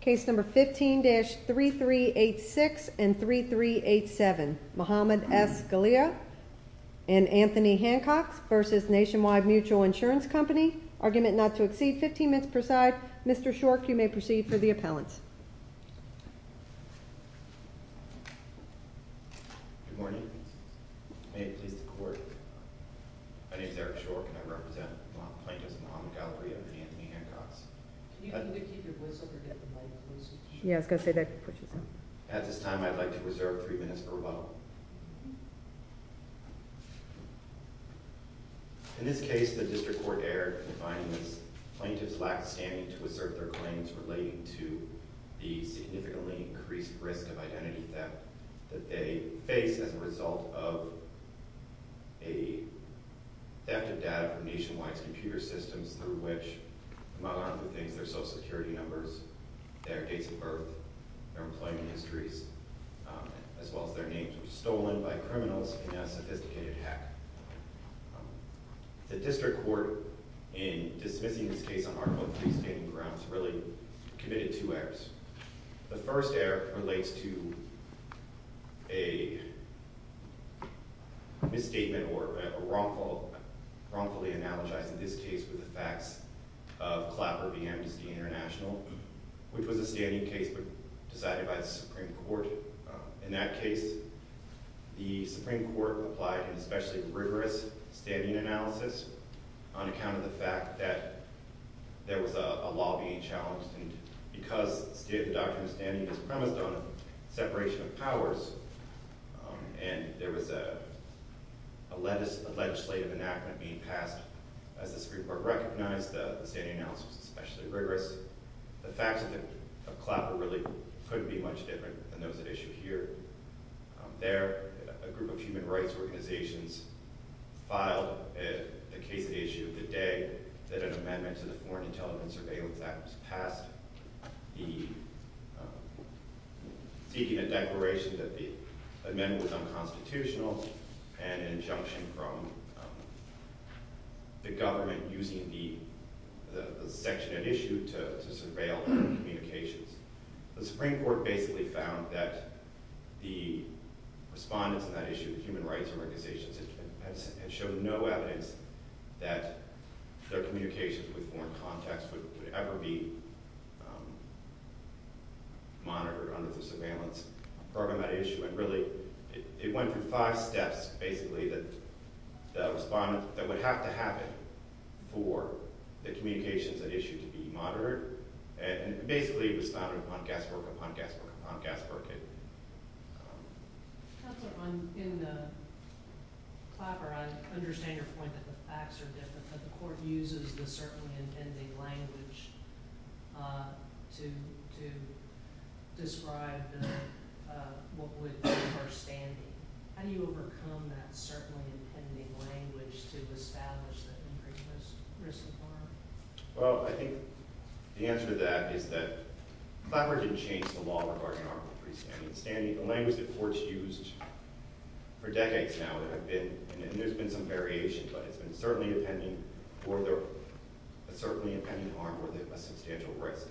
Case number 15-3386 and 3387 Muhammad S. Galea and Anthony Hancox vs. Nationwide Mutual Insurance Company. Argument not to exceed 15 minutes per side. Mr. Shorke, you may proceed for the appellant. Good morning. May it please the court. My name is Eric Shorke and I represent the plaintiffs Muhammad Galea and Anthony Hancox. Can you either keep your voice up or get the mic closer to you? Yeah, I was going to say that. At this time, I'd like to reserve three minutes for rebuttal. In this case, the district court dared to find this plaintiff's lack of standing to assert their claims relating to the significantly increased risk of identity theft that they face as a result of a theft of data from Nationwide's computer systems through which they have their social security numbers, their dates of birth, their employment histories, as well as their names, which were stolen by criminals in a sophisticated hack. The district court, in dismissing this case on Article III standing grounds, really committed two errors. The first error relates to a misstatement or wrongfully analogizing this case with the facts of Clapper v. Amnesty International, which was a standing case but decided by the Supreme Court. In that case, the Supreme Court applied an especially rigorous standing analysis on account of the fact that there was a law being challenged. And because the doctrine of standing is premised on separation of powers and there was a legislative enactment being passed, as the Supreme Court recognized, the standing analysis was especially rigorous. The facts of Clapper really couldn't be much different than those at issue here. There, a group of human rights organizations filed a case at issue the day that an amendment to the Foreign Intelligence Surveillance Act was passed, seeking a declaration that the amendment was unconstitutional and an injunction from the government using the section at issue to surveil communications. The Supreme Court basically found that the respondents at that issue, the human rights organizations, had shown no evidence that their communications with foreign contacts would ever be monitored under the surveillance program at issue. And really, it went through five steps, basically, that would have to happen for the communications at issue to be monitored. And basically, it was founded upon guesswork, upon guesswork, upon guesswork. In Clapper, I understand your point that the facts are different, that the court uses the certainly impending language to describe what would be the first standing. How do you overcome that certainly impending language to establish that increased risk of harm? Well, I think the answer to that is that Clapper didn't change the law regarding harm with three standings. The language that courts used for decades now, and there's been some variations, but it's been certainly impending harm with a substantial risk.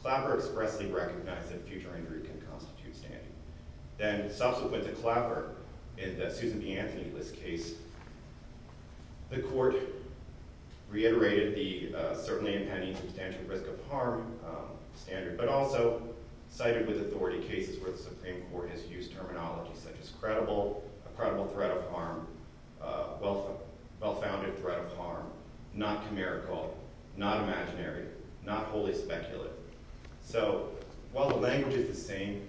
Clapper expressly recognized that future injury can constitute standing. Then, subsequent to Clapper, in the Susan B. Anthony List case, the court reiterated the certainly impending substantial risk of harm standard, but also cited with authority cases where the Supreme Court has used terminology such as credible, credible threat of harm, well-founded threat of harm, not chimerical, not imaginary, not wholly speculative. So, while the language is the same,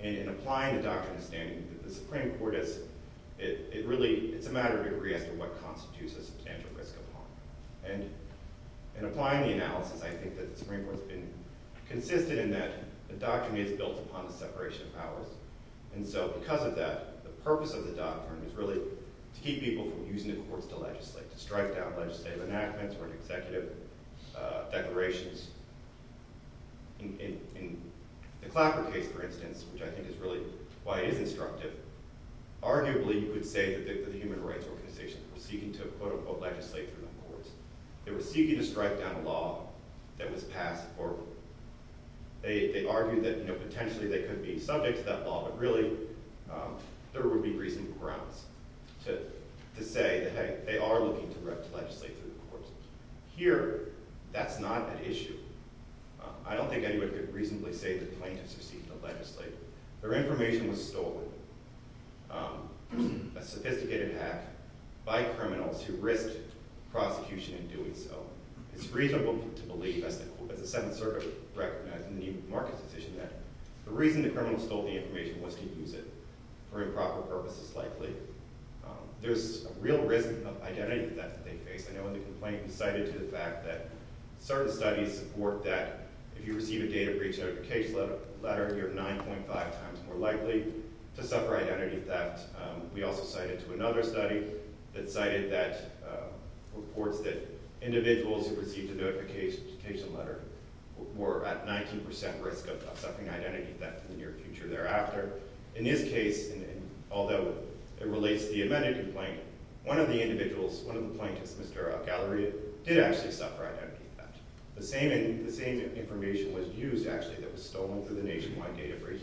in applying the doctrine of standing, the Supreme Court is, it really, it's a matter of degree as to what constitutes a substantial risk of harm. In applying the analysis, I think that the Supreme Court has been consistent in that the doctrine is built upon the separation of powers, and so because of that, the purpose of the doctrine is really to keep people from using the courts to legislate, to strike down legislative enactments or executive declarations. In the Clapper case, for instance, which I think is really why it is instructive, arguably you could say that the human rights organization was seeking to, quote-unquote, legislate through the courts. They were seeking to strike down a law that was passed, or they argued that, you know, potentially they could be subject to that law, but really there would be reasonable grounds to say that, hey, they are looking to legislate through the courts. Here, that's not an issue. I don't think anyone could reasonably say that plaintiffs are seeking to legislate. Their information was stolen, a sophisticated hack, by criminals who risked prosecution in doing so. It's reasonable to believe, as the Seventh Circuit recognized in the New Market Decision, that the reason the criminals stole the information was to use it for improper purposes, likely. There's a real risk of identity theft that they face. I know in the complaint we cited to the fact that certain studies support that if you receive a data breach notification letter, you're 9.5 times more likely to suffer identity theft. We also cited to another study that cited reports that individuals who received a notification letter were at 19 percent risk of suffering identity theft in the near future thereafter. In this case, although it relates to the amended complaint, one of the individuals, one of the plaintiffs, Mr. Galleria, did actually suffer identity theft. The same information was used, actually, that was stolen through the nationwide data breach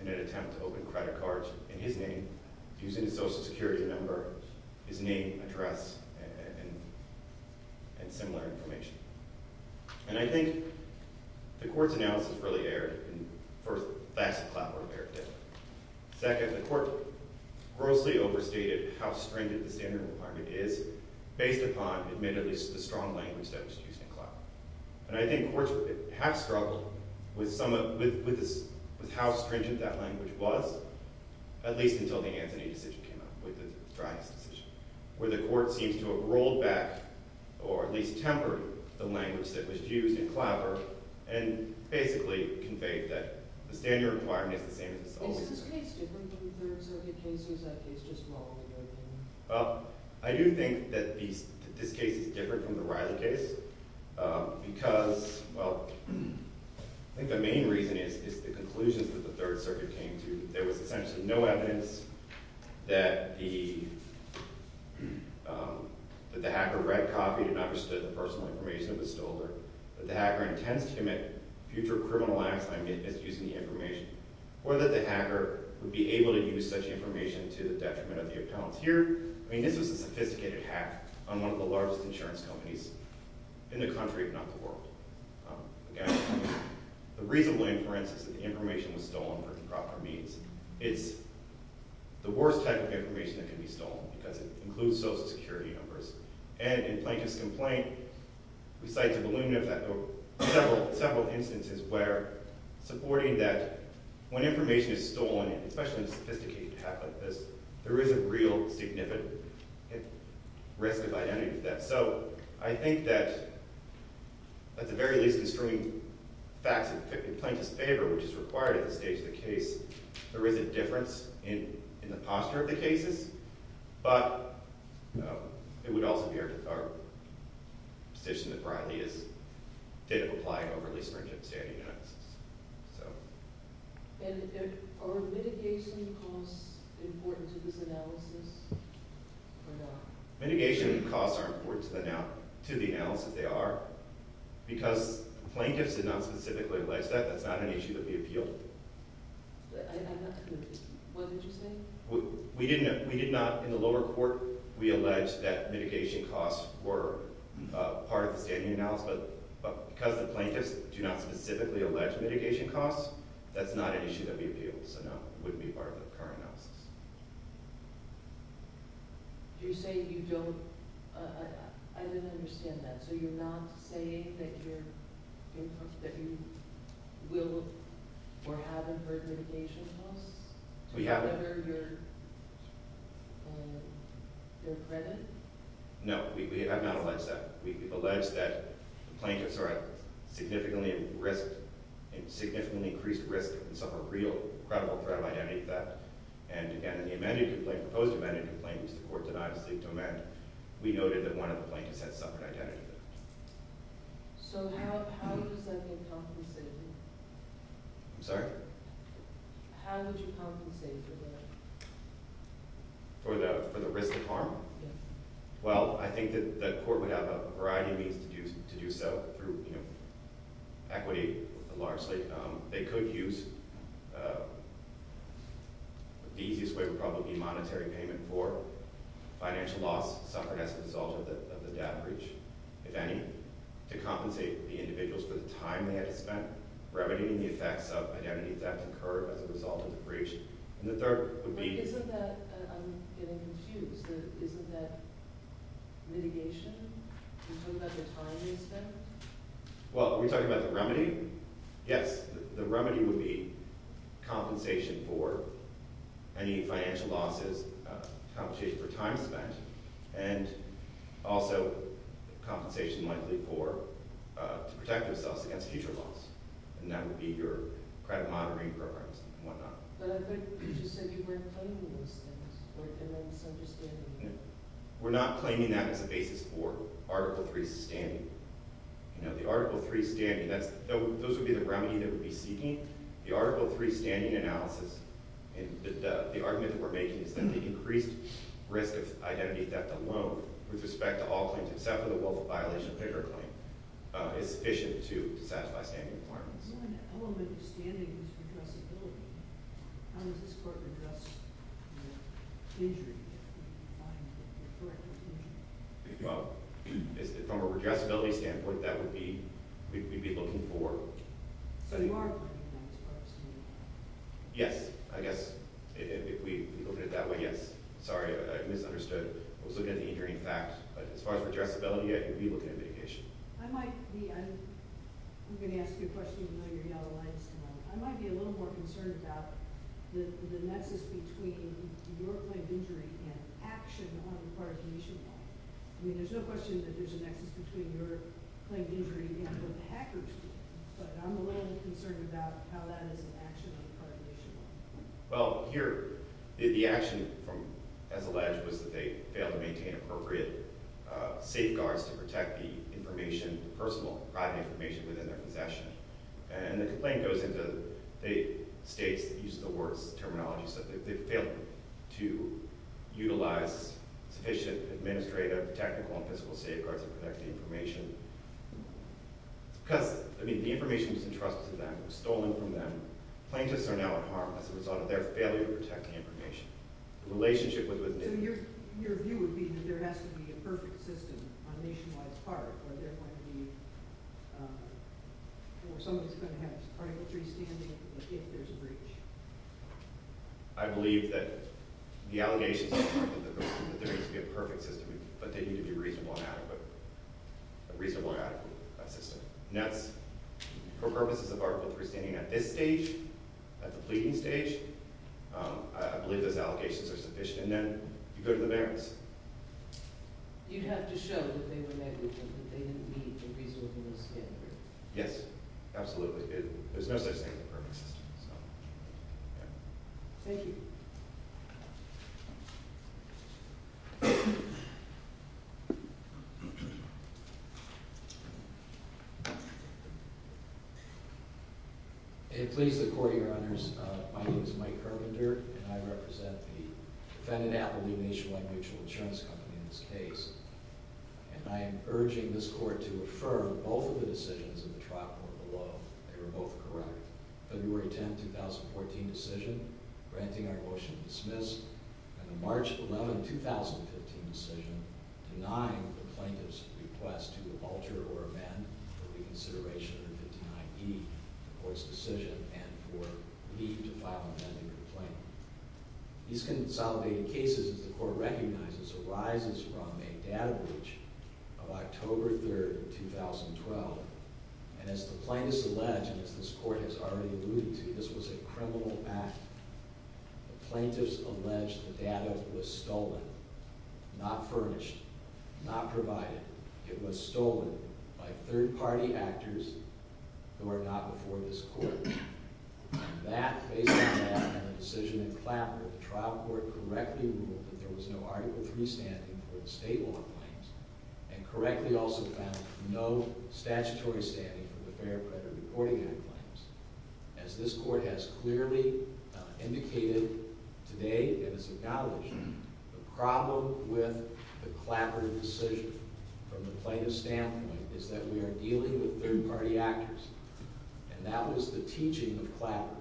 in an attempt to open credit cards in his name, using a Social Security number, his name, address, and similar information. And I think the court's analysis really erred in, first, facts of clapper were erred in. Second, the court grossly overstated how stringent the standard requirement is based upon, admittedly, the strong language that was used in clapper. And I think courts have struggled with how stringent that language was, at least until the Anthony decision came out, with the Stratton's decision, where the court seems to have rolled back, or at least tempered, the language that was used in clapper and basically conveyed that the standard requirement is the same as it's always been. Is this case different from the Thurston case, or is that case just long ago? Well, I do think that this case is different from the Riley case because, well, I think the main reason is the conclusions that the Third Circuit came to. There was essentially no evidence that the hacker read, copied, and understood the personal information that was stolen, that the hacker intends to commit future criminal acts by misusing the information, or that the hacker would be able to use such information to the detriment of the appellant. Here, I mean, this was a sophisticated hack on one of the largest insurance companies in the country, if not the world. Again, the reasonable inference is that the information was stolen for improper means. It's the worst type of information that can be stolen because it includes social security numbers. And in Plaintiff's complaint, we cite several instances where supporting that when information is stolen, especially in a sophisticated hack like this, there is a real significant risk of identity theft. So I think that, at the very least, in strewing facts in Plaintiff's favor, which is required at this stage of the case, there is a difference in the posture of the cases. But it would also be our position that Riley did apply an overly stringent standing analysis. And are mitigation costs important to this analysis, or not? Mitigation costs are important to the analysis. They are. Because Plaintiff's did not specifically allege that, that's not an issue that we appealed. I'm not completely – what did you say? We did not – in the lower court, we allege that mitigation costs were part of the standing analysis. But because the Plaintiff's do not specifically allege mitigation costs, that's not an issue that we appealed. So no, it wouldn't be part of the current analysis. Do you say you don't – I didn't understand that. So you're not saying that you're – that you will or haven't heard mitigation costs? We haven't. To better your credit? No, we have not alleged that. We've alleged that the Plaintiff's are at significantly increased risk and suffer real, credible threat of identity theft. And again, in the amended complaint, the proposed amended complaint, which the court denied as the domain, we noted that one of the Plaintiff's had suffered identity theft. So how does that get compensated? I'm sorry? How would you compensate for that? For the risk of harm? Yes. Well, I think that the court would have a variety of means to do so through equity, largely. They could use – the easiest way would probably be monetary payment for financial loss suffered as a result of the debt breach, if any, to compensate the individuals for the time they had to spend remedying the effects of identity theft occurred as a result of the breach. And the third would be – Isn't that – I'm getting confused. Isn't that mitigation? Are you talking about the time they spent? Well, are we talking about the remedy? Yes. The remedy would be compensation for any financial losses, compensation for time spent, and also compensation likely for – to protect themselves against future loss. And that would be your credit monitoring programs and whatnot. But I thought you just said you weren't claiming those things. Am I misunderstanding you? We're not claiming that as a basis for Article III standing. You know, the Article III standing, that's – those would be the remedy that we'd be seeking. The Article III standing analysis and the argument that we're making is that the increased risk of identity theft alone, with respect to all claims except for the willful violation of their claim, is sufficient to satisfy standing requirements. One element of standing is redressability. How does this court address the injury that could be defined as a corrective injury? Well, from a redressability standpoint, that would be – we'd be looking for – So you are looking at that as part of some of the – Yes. I guess if we look at it that way, yes. Sorry, I misunderstood. I was looking at the injury in fact. But as far as redressability, yeah, you'd be looking at mitigation. I might be – I'm going to ask you a question even though you're yellow-eyed still. I might be a little more concerned about the nexus between your claim of injury and action on the part of Nationwide. I mean, there's no question that there's a nexus between your claim of injury and what the hackers did. But I'm a little more concerned about how that is an action on the part of Nationwide. Well, here, the action, as alleged, was that they failed to maintain appropriate safeguards to protect the information, personal, private information within their possession. And the complaint goes into – it states, in use of the word's terminology, that they failed to utilize sufficient administrative, technical, and physical safeguards to protect the information. Because, I mean, the information was entrusted to them. It was stolen from them. Plaintiffs are now at harm as a result of their failure to protect the information. The relationship with – So your view would be that there has to be a perfect system on Nationwide's part, or they're going to be – or someone's going to have Article 3 standing if there's a breach? I believe that the allegations are that there needs to be a perfect system, but they need to be reasonable and adequate – a reasonable and adequate system. And that's – for purposes of Article 3 standing at this stage, at the pleading stage, I believe those allegations are sufficient. And then you go to the merits. You'd have to show that they were negligent, that they didn't meet a reasonable standard. Yes, absolutely. There's no such thing as a perfect system. Thank you. May it please the Court, Your Honors, my name is Mike Herbender, and I represent the defendant, Appalooh Nationwide Mutual Insurance Company, in this case. And I am urging this Court to affirm both of the decisions in the trial court below. They were both correct. February 10, 2014 decision, granting our motion to dismiss, and the March 11, 2015 decision, denying the plaintiff's request to alter or amend for reconsideration of the 59E, the Court's decision, and for leave to file an amending complaint. These consolidated cases, as the Court recognizes, arises from a data breach of October 3, 2012. And as the plaintiffs allege, and as this Court has already alluded to, this was a criminal act. The plaintiffs allege the data was stolen, not furnished, not provided. It was stolen by third-party actors who are not before this Court. And that, based on that, and the decision in Clapper, the trial court correctly ruled that there was no Article III standing for the state law claims, and correctly also found no statutory standing for the Fair Credit Reporting Act claims. As this Court has clearly indicated today, and has acknowledged, the problem with the Clapper decision from the plaintiff's standpoint is that we are dealing with third-party actors. And that was the teaching of Clapper.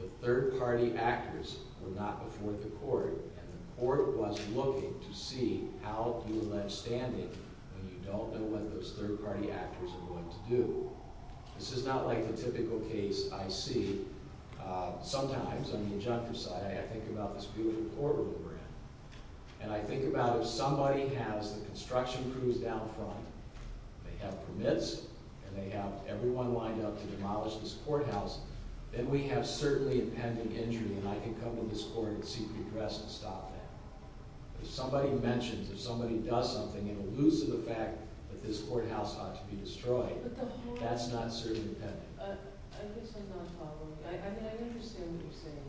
The third-party actors were not before the Court, and the Court was looking to see how you allege standing when you don't know what those third-party actors are going to do. This is not like the typical case I see. Sometimes, on the objective side, I think about this beautiful courtroom we're in, and I think about if somebody has the construction crews down front, they have permits, and they have everyone wind up to demolish this courthouse, then we have certainly a pending injury, and I can come to this Court and seek redress and stop that. If somebody mentions, if somebody does something, and alludes to the fact that this courthouse ought to be destroyed, that's not certainly pending. I guess I'm not following. I mean, I understand what you're saying,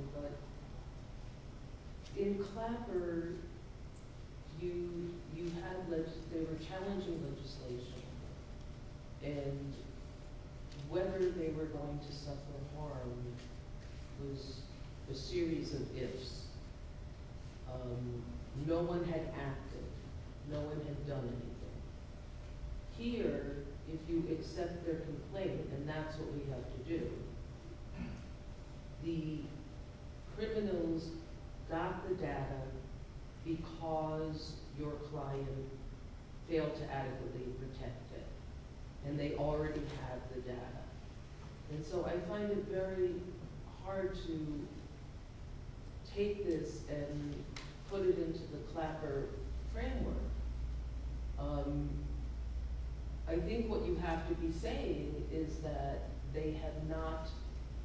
but in Clapper, they were challenging legislation, and whether they were going to suffer harm was a series of ifs. No one had acted. No one had done anything. Here, if you accept their complaint, and that's what we have to do, the criminals got the data because your client failed to adequately protect it, and they already have the data. And so I find it very hard to take this and put it into the Clapper framework. I think what you have to be saying is that they have not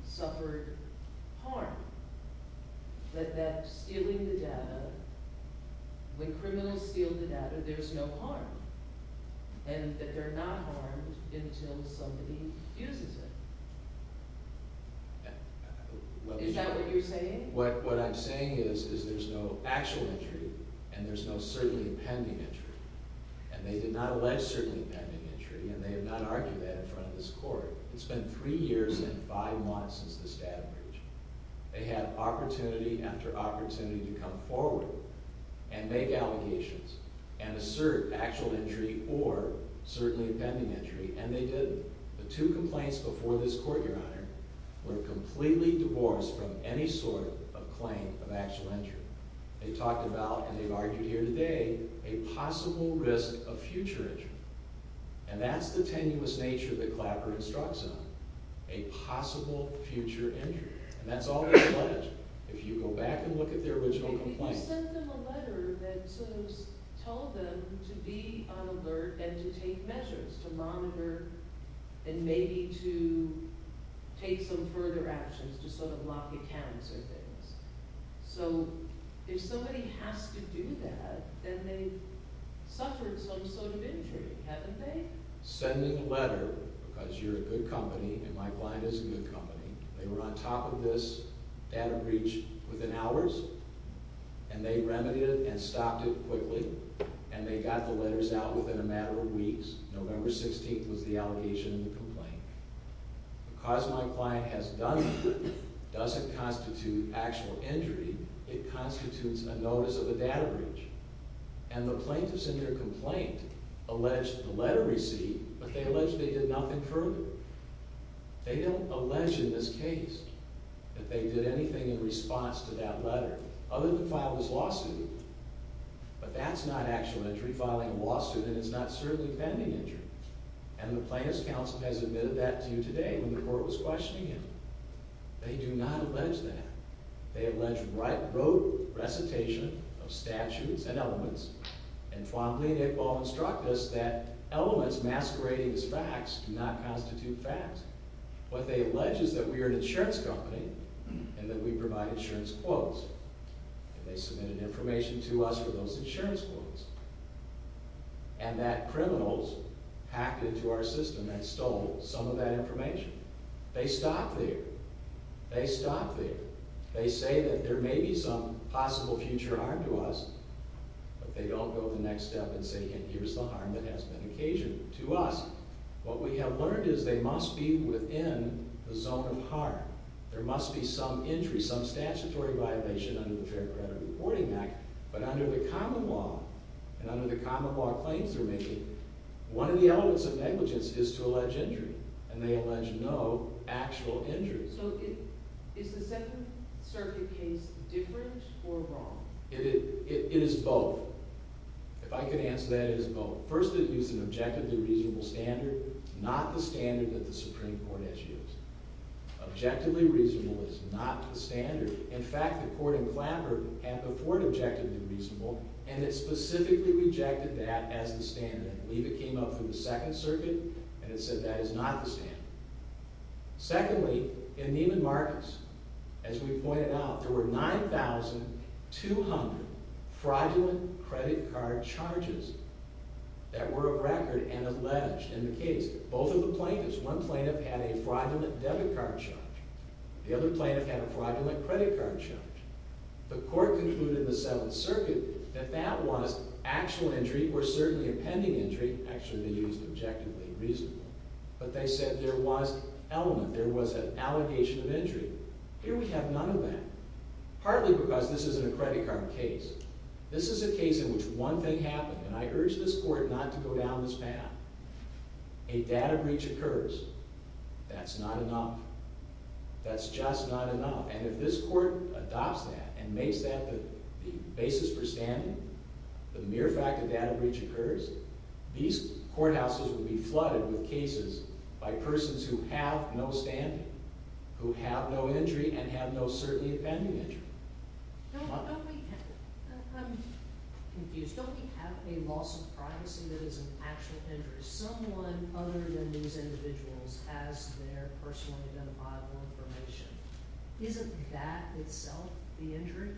suffered harm, that stealing the data, when criminals steal the data, there's no harm, and that they're not harmed until somebody uses it. Is that what you're saying? What I'm saying is there's no actual injury, and there's no certainly pending injury, and they did not allege certainly pending injury, and they have not argued that in front of this Court. It's been three years and five months since this data breach. They had opportunity after opportunity to come forward and make allegations and assert actual injury or certainly pending injury, and they didn't. The two complaints before this Court, Your Honor, were completely divorced from any sort of claim of actual injury. They talked about, and they've argued here today, a possible risk of future injury, and that's the tenuous nature that Clapper instructs on, a possible future injury. And that's all they pledge. If you go back and look at their original complaints. They sent them a letter that sort of told them to be on alert and to take measures, to monitor and maybe to take some further actions to sort of lock accounts or things. So if somebody has to do that, then they've suffered some sort of injury, haven't they? Sending a letter because you're a good company and my client is a good company. They were on top of this data breach within hours, and they remedied it and stopped it quickly, and they got the letters out within a matter of weeks. November 16th was the allegation in the complaint. Because my client has done nothing, it doesn't constitute actual injury. It constitutes a notice of a data breach. And the plaintiffs in their complaint alleged the letter received, but they alleged they did nothing further. They don't allege in this case that they did anything in response to that letter, other than file this lawsuit. But that's not actual injury, filing a lawsuit, and it's not certainly a pending injury. And the plaintiffs' counsel has admitted that to you today when the court was questioning him. They do not allege that. They allege right-of-road recitation of statutes and elements. And Juan Blinick will instruct us that elements masquerading as facts do not constitute facts. What they allege is that we are an insurance company and that we provide insurance quotes. And they submitted information to us for those insurance quotes. And that criminals hacked into our system and stole some of that information. They stop there. They stop there. They say that there may be some possible future harm to us, but they don't go the next step and say, here's the harm that has been occasioned to us. What we have learned is they must be within the zone of harm. There must be some injury, some statutory violation under the Fair Credit Reporting Act. But under the common law and under the common law claims they're making, one of the elements of negligence is to allege injury. And they allege no actual injury. So is the Second Circuit case different or wrong? It is both. If I could answer that, it is both. First, it used an objectively reasonable standard, not the standard that the Supreme Court has used. Objectively reasonable is not the standard. In fact, the court in Clambert had before it objectively reasonable, and it specifically rejected that as the standard. I believe it came up through the Second Circuit, and it said that is not the standard. Secondly, in Neiman Marcus, as we pointed out, there were 9,200 fraudulent credit card charges that were of record and alleged in the case. Both of the plaintiffs, one plaintiff had a fraudulent debit card charge. The other plaintiff had a fraudulent credit card charge. The court concluded in the Seventh Circuit that that was actual injury or certainly a pending injury. Actually, they used objectively reasonable. But they said there was element, there was an allegation of injury. Here we have none of that, partly because this isn't a credit card case. This is a case in which one thing happened, and I urge this court not to go down this path. A data breach occurs. That's not enough. That's just not enough. And if this court adopts that and makes that the basis for standing, the mere fact that data breach occurs, these courthouses would be flooded with cases by persons who have no standing, who have no injury and have no certainly a pending injury. I'm confused. Don't we have a loss of privacy that is an actual injury? Someone other than these individuals has their personally identifiable information. Isn't that itself the injury?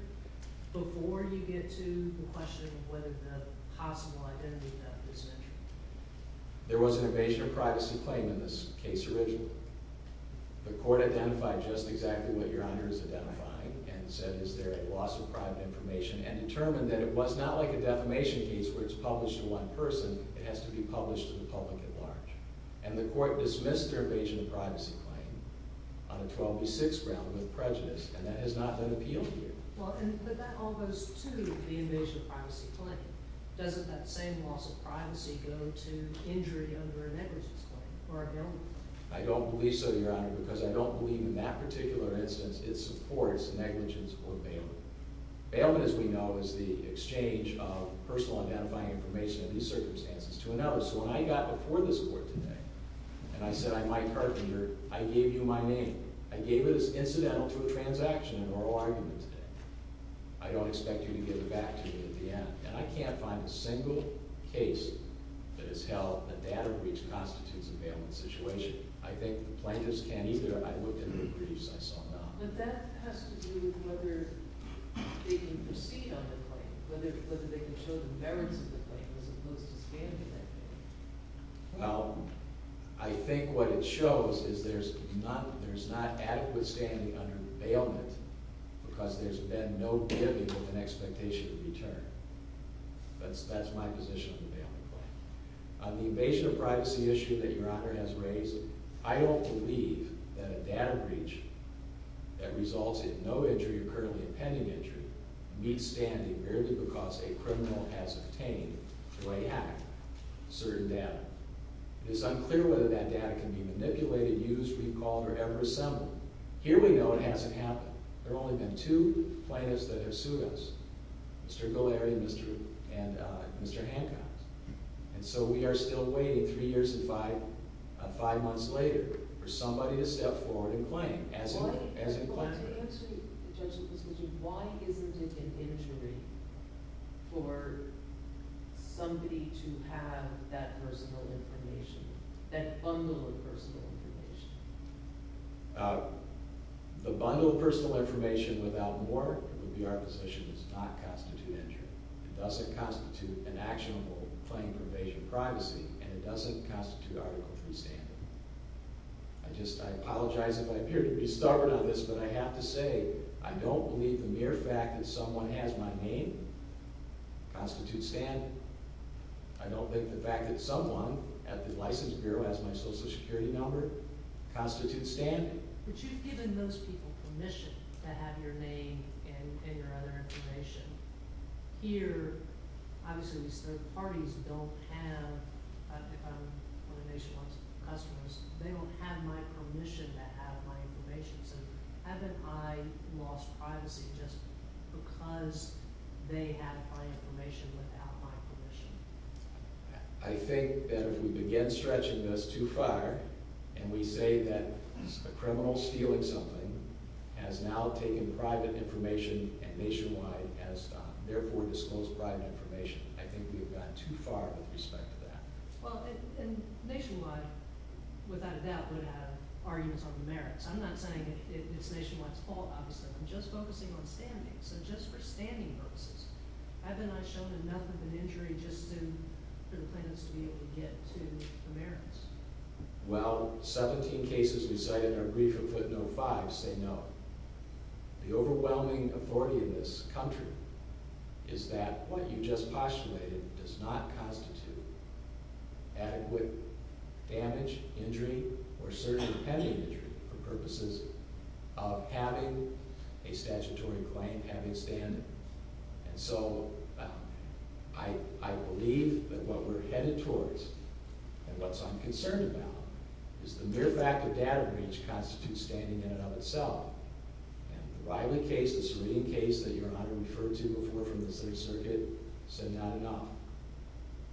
Before you get to the question of whether the possible identity of that person is an injury. There was an evasion of privacy claim in this case originally. The court identified just exactly what Your Honor is identifying and said is there a loss of private information and determined that it was not like a defamation case where it's published to one person. It has to be published to the public at large. And the court dismissed their evasion of privacy claim on a 12B6 ground with prejudice, and that has not been appealed here. But that all goes to the evasion of privacy claim. Doesn't that same loss of privacy go to injury under a negligence claim or a bailment? I don't believe so, Your Honor, because I don't believe in that particular instance it supports negligence or bailment. Bailment, as we know, is the exchange of personal identifying information in these circumstances to another. So when I got before this court today and I said I'm Mike Hartinger, I gave you my name. I gave it as incidental to a transaction in oral argument today. I don't expect you to give it back to me at the end. And I can't find a single case that has held a data breach constitutes a bailment situation. I think the plaintiffs can't either. I looked into the briefs. I saw none. But that has to do with whether they can proceed on the claim, whether they can show the merits of the claim as opposed to standing that claim. Well, I think what it shows is there's not adequate standing under bailment because there's been no giving with an expectation of return. That's my position on the bailment claim. On the evasion of privacy issue that Your Honor has raised, I don't believe that a data breach that results in no injury or currently a pending injury meets standing merely because a criminal has obtained, through a hack, certain data. It is unclear whether that data can be manipulated, used, recalled, or ever assembled. Here we know it hasn't happened. There have only been two plaintiffs that have sued us, Mr. Gholary and Mr. Hancock. And so we are still waiting three years and five months later for somebody to step forward and claim. Well, let me answer the judge's question. Why isn't it an injury for somebody to have that personal information, that bundle of personal information? The bundle of personal information without more would be our position. It does not constitute injury. It doesn't constitute an actionable claim for evasion of privacy, and it doesn't constitute article 3 standing. I apologize if I appear to be stubborn on this, but I have to say, I don't believe the mere fact that someone has my name constitutes standing. I don't think the fact that someone at the License Bureau has my Social Security number constitutes standing. But you've given those people permission to have your name and your other information. Here, obviously these third parties don't have, or the nationwide customers, they don't have my permission to have my information. So haven't I lost privacy just because they have my information without my permission? I think that if we begin stretching this too far, and we say that a criminal stealing something has now taken private information and nationwide has therefore disclosed private information, I think we've gone too far with respect to that. Well, and nationwide, without a doubt, would have arguments on the merits. I'm not saying it's nationwide's fault, obviously. I'm just focusing on standing. So just for standing purposes, haven't I shown enough of an injury just for the plaintiffs to be able to get to the merits? Well, 17 cases we cited are brief and put no fives. They know the overwhelming authority in this country is that what you just postulated does not constitute adequate damage, injury, or certain pending injury for purposes of having a statutory claim, having standing. And so I believe that what we're headed towards and what I'm concerned about is the mere fact that data breach constitutes standing in and of itself. And the Riley case, this reading case that Your Honor referred to before from the Third Circuit, said not enough.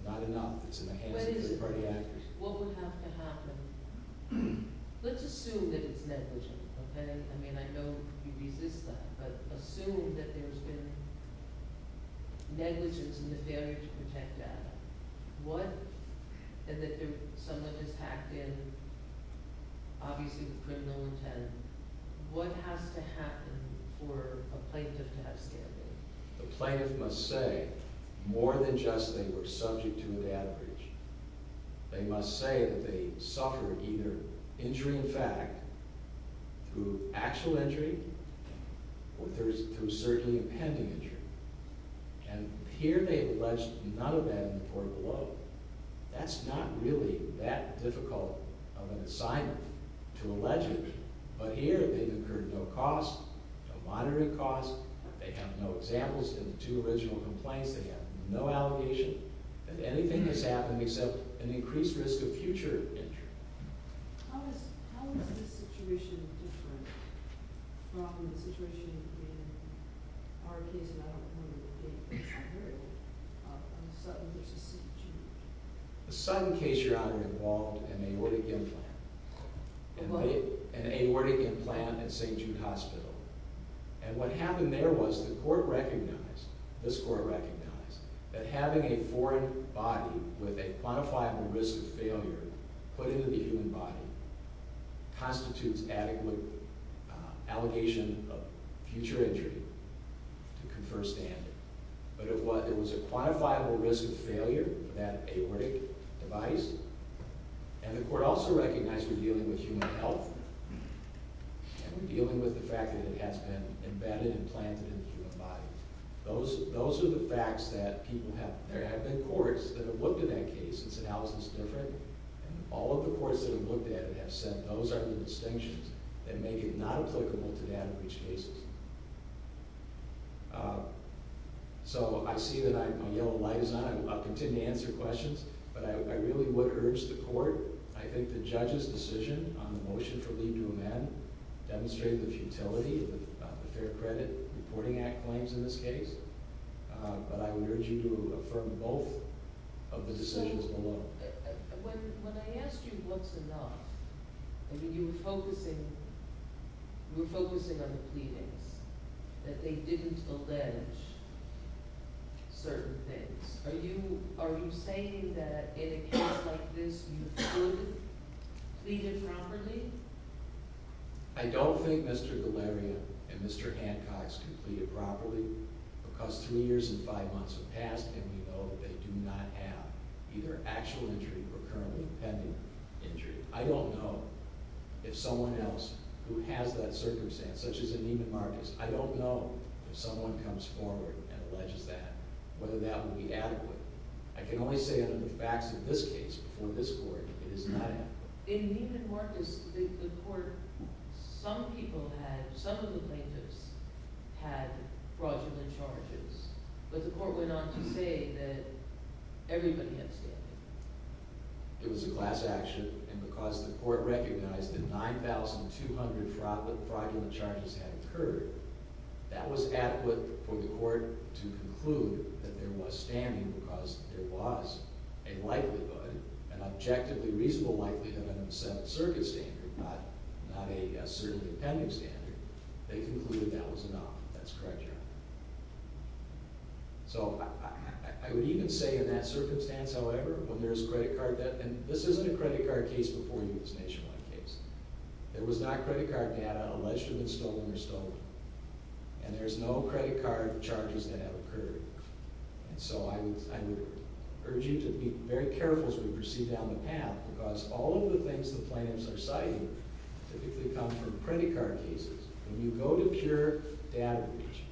Not enough that's in the hands of third-party actors. What would have to happen? Let's assume that it's negligent, okay? I mean, I know you resist that. But assume that there's been negligence in the failure to protect data. What—and that someone has hacked in, obviously with criminal intent. What has to happen for a plaintiff to have standing? The plaintiff must say more than just they were subject to a data breach. They must say that they suffered either injury in fact through actual injury or through certainly a pending injury. And here they've alleged none of that in the court below. That's not really that difficult of an assignment to allege it. But here they've incurred no cost, no moderate cost. They have no examples in the two original complaints. They have no allegation. That anything has happened except an increased risk of future injury. How is this situation different from the situation in our case and I don't know whether you've heard of it, on Sutton v. St. Jude? The Sutton case, Your Honor, involved an aortic implant. An aortic implant at St. Jude Hospital. And what happened there was the court recognized, this court recognized, that having a foreign body with a quantifiable risk of failure put into the human body constitutes adequate allegation of future injury to confer standing. But it was a quantifiable risk of failure, that aortic device, and the court also recognized we're dealing with human health and we're dealing with the fact that it has been embedded and planted in the human body. Those are the facts that people have... There have been courts that have looked at that case and said, how is this different? And all of the courts that have looked at it have said, those are the distinctions that make it not applicable to that in each case. So I see that my yellow light is on. I'll continue to answer questions, but I really would urge the court, I think the judge's decision on the motion for leave to amend demonstrated the futility of the Fair Credit Reporting Act claims in this case, but I would urge you to affirm both of the decisions below. When I asked you what's enough, I mean, you were focusing on the pleadings, that they didn't allege certain things. Are you saying that in a case like this you could plead it properly? I don't think Mr. Galleria and Mr. Hancock's completed properly because three years and five months have passed and we know that they do not have either actual injury or currently pending injury. I don't know if someone else who has that circumstance, such as in Neiman Marcus, I don't know if someone comes forward and alleges that, whether that would be adequate. I can only say it in the facts of this case before this court, it is not adequate. In Neiman Marcus, the court, some people had, some of the plaintiffs had fraudulent charges, but the court went on to say that everybody had standing. It was a class action, and because the court recognized that 9,200 fraudulent charges had occurred, that was adequate for the court to conclude that there was standing because there was a likelihood, an objectively reasonable likelihood under the Seventh Circuit standard, not a certainly pending standard, they concluded that was enough. That's correct, Your Honor. So I would even say in that circumstance, however, when there's credit card debt, and this isn't a credit card case before you, this nationwide case. There was not credit card debt alleged to have been stolen or stolen, and there's no credit card charges that have occurred. And so I would urge you to be very careful as we proceed down the path because all of the things the plaintiffs are citing typically come from credit card cases. When you go to pure data breach,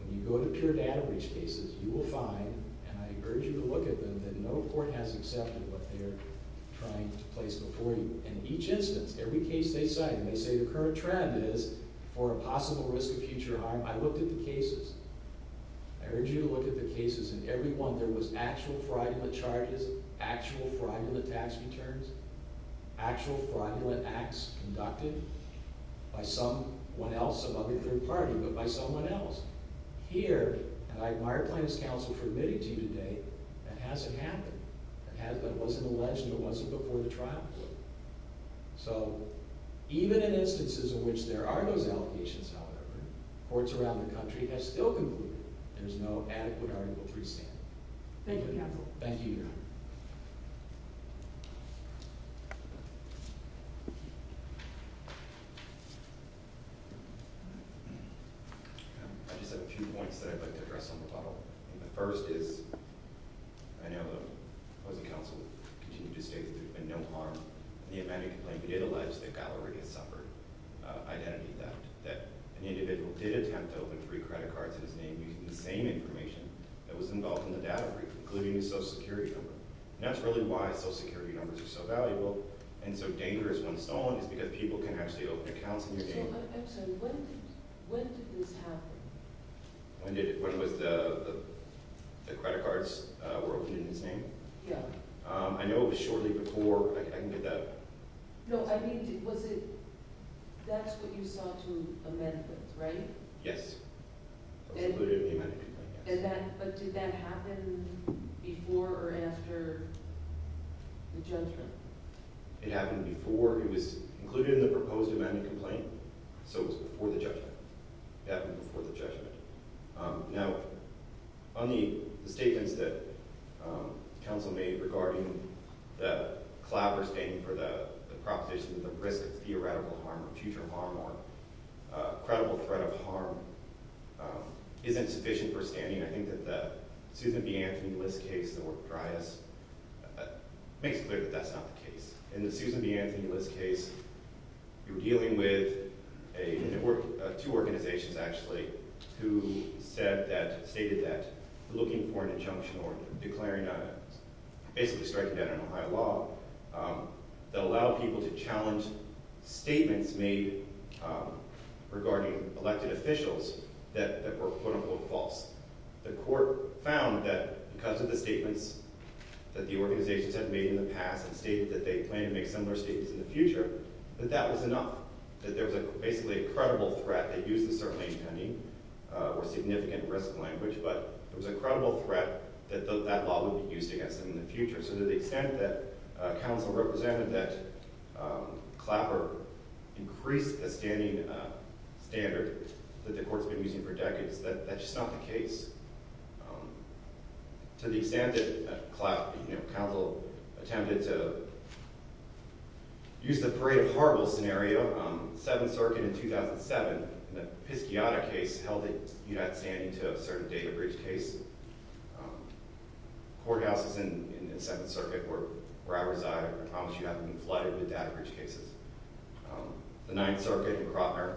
when you go to pure data breach cases, you will find, and I urge you to look at them, that no court has accepted what they're trying to place before you. In each instance, every case they cite, and they say the current trend is for a possible risk of future harm. I looked at the cases. I urge you to look at the cases, and every one there was actual fraudulent charges, actual fraudulent tax returns, actual fraudulent acts conducted by someone else, some other third party, but by someone else. Here, and I admire plaintiffs' counsel for admitting to you today, that hasn't happened. That wasn't alleged, and it wasn't before the trial court. So even in instances in which there are those allegations, however, courts around the country have still concluded there's no adequate Article III standard. Thank you, counsel. Thank you, Your Honor. I just have a few points that I'd like to address on the bottle. The first is, I know the opposing counsel continued to state that there's been no harm. The amendment complaint did allege that Gallery had suffered identity theft, that an individual did attempt to open three credit cards in his name using the same information that was involved in the data breach, including his Social Security number. And that's really why Social Security numbers are so valuable, and so dangerous when stolen is because people can actually open accounts in your name. I'm sorry, when did this happen? When the credit cards were opened in his name? Yeah. I know it was shortly before. I can get that. No, I mean, that's what you sought to amend with, right? Yes. It was included in the amendment complaint, yes. But did that happen before or after the judgment? It happened before. It was included in the proposed amendment complaint, so it was before the judgment. It happened before the judgment. Now, on the statements that counsel made regarding the clapper standing for the proposition that the risk of theoretical harm or future harm or credible threat of harm isn't sufficient for standing, I think that the Susan B. Anthony Bliss case, the work of Dryas, makes it clear that that's not the case. In the Susan B. Anthony Bliss case, you're dealing with two organizations, actually, who said that, stated that looking for an injunction or declaring a, basically striking down an Ohio law that allowed people to challenge statements made regarding elected officials that were quote-unquote false. The court found that because of the statements that the organizations have made in the past and stated that they plan to make similar statements in the future, that that was enough, that there was basically a credible threat. They used the term maintaining or significant risk language, but there was a credible threat that that law would be used against them in the future. So to the extent that counsel represented that clapper increased the standing standard that the court's been using for decades, that's just not the case. To the extent that counsel attempted to use the Parade of Horribles scenario, Seventh Circuit in 2007, the Pisciotta case held that you had standing to a certain data bridge case. Courthouses in Seventh Circuit where I reside, I promise you, have been flooded with data bridge cases. The Ninth Circuit in Krotner,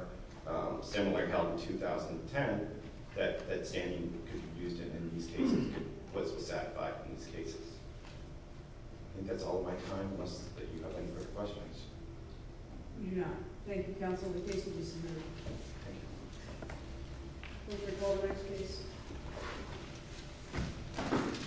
similar held in 2010, that standing could be used in these cases, was satisfied in these cases. I think that's all of my time, unless you have any further questions. I do not. Thank you, counsel. The case is dismissed. Thank you. Mr. Goldman, please.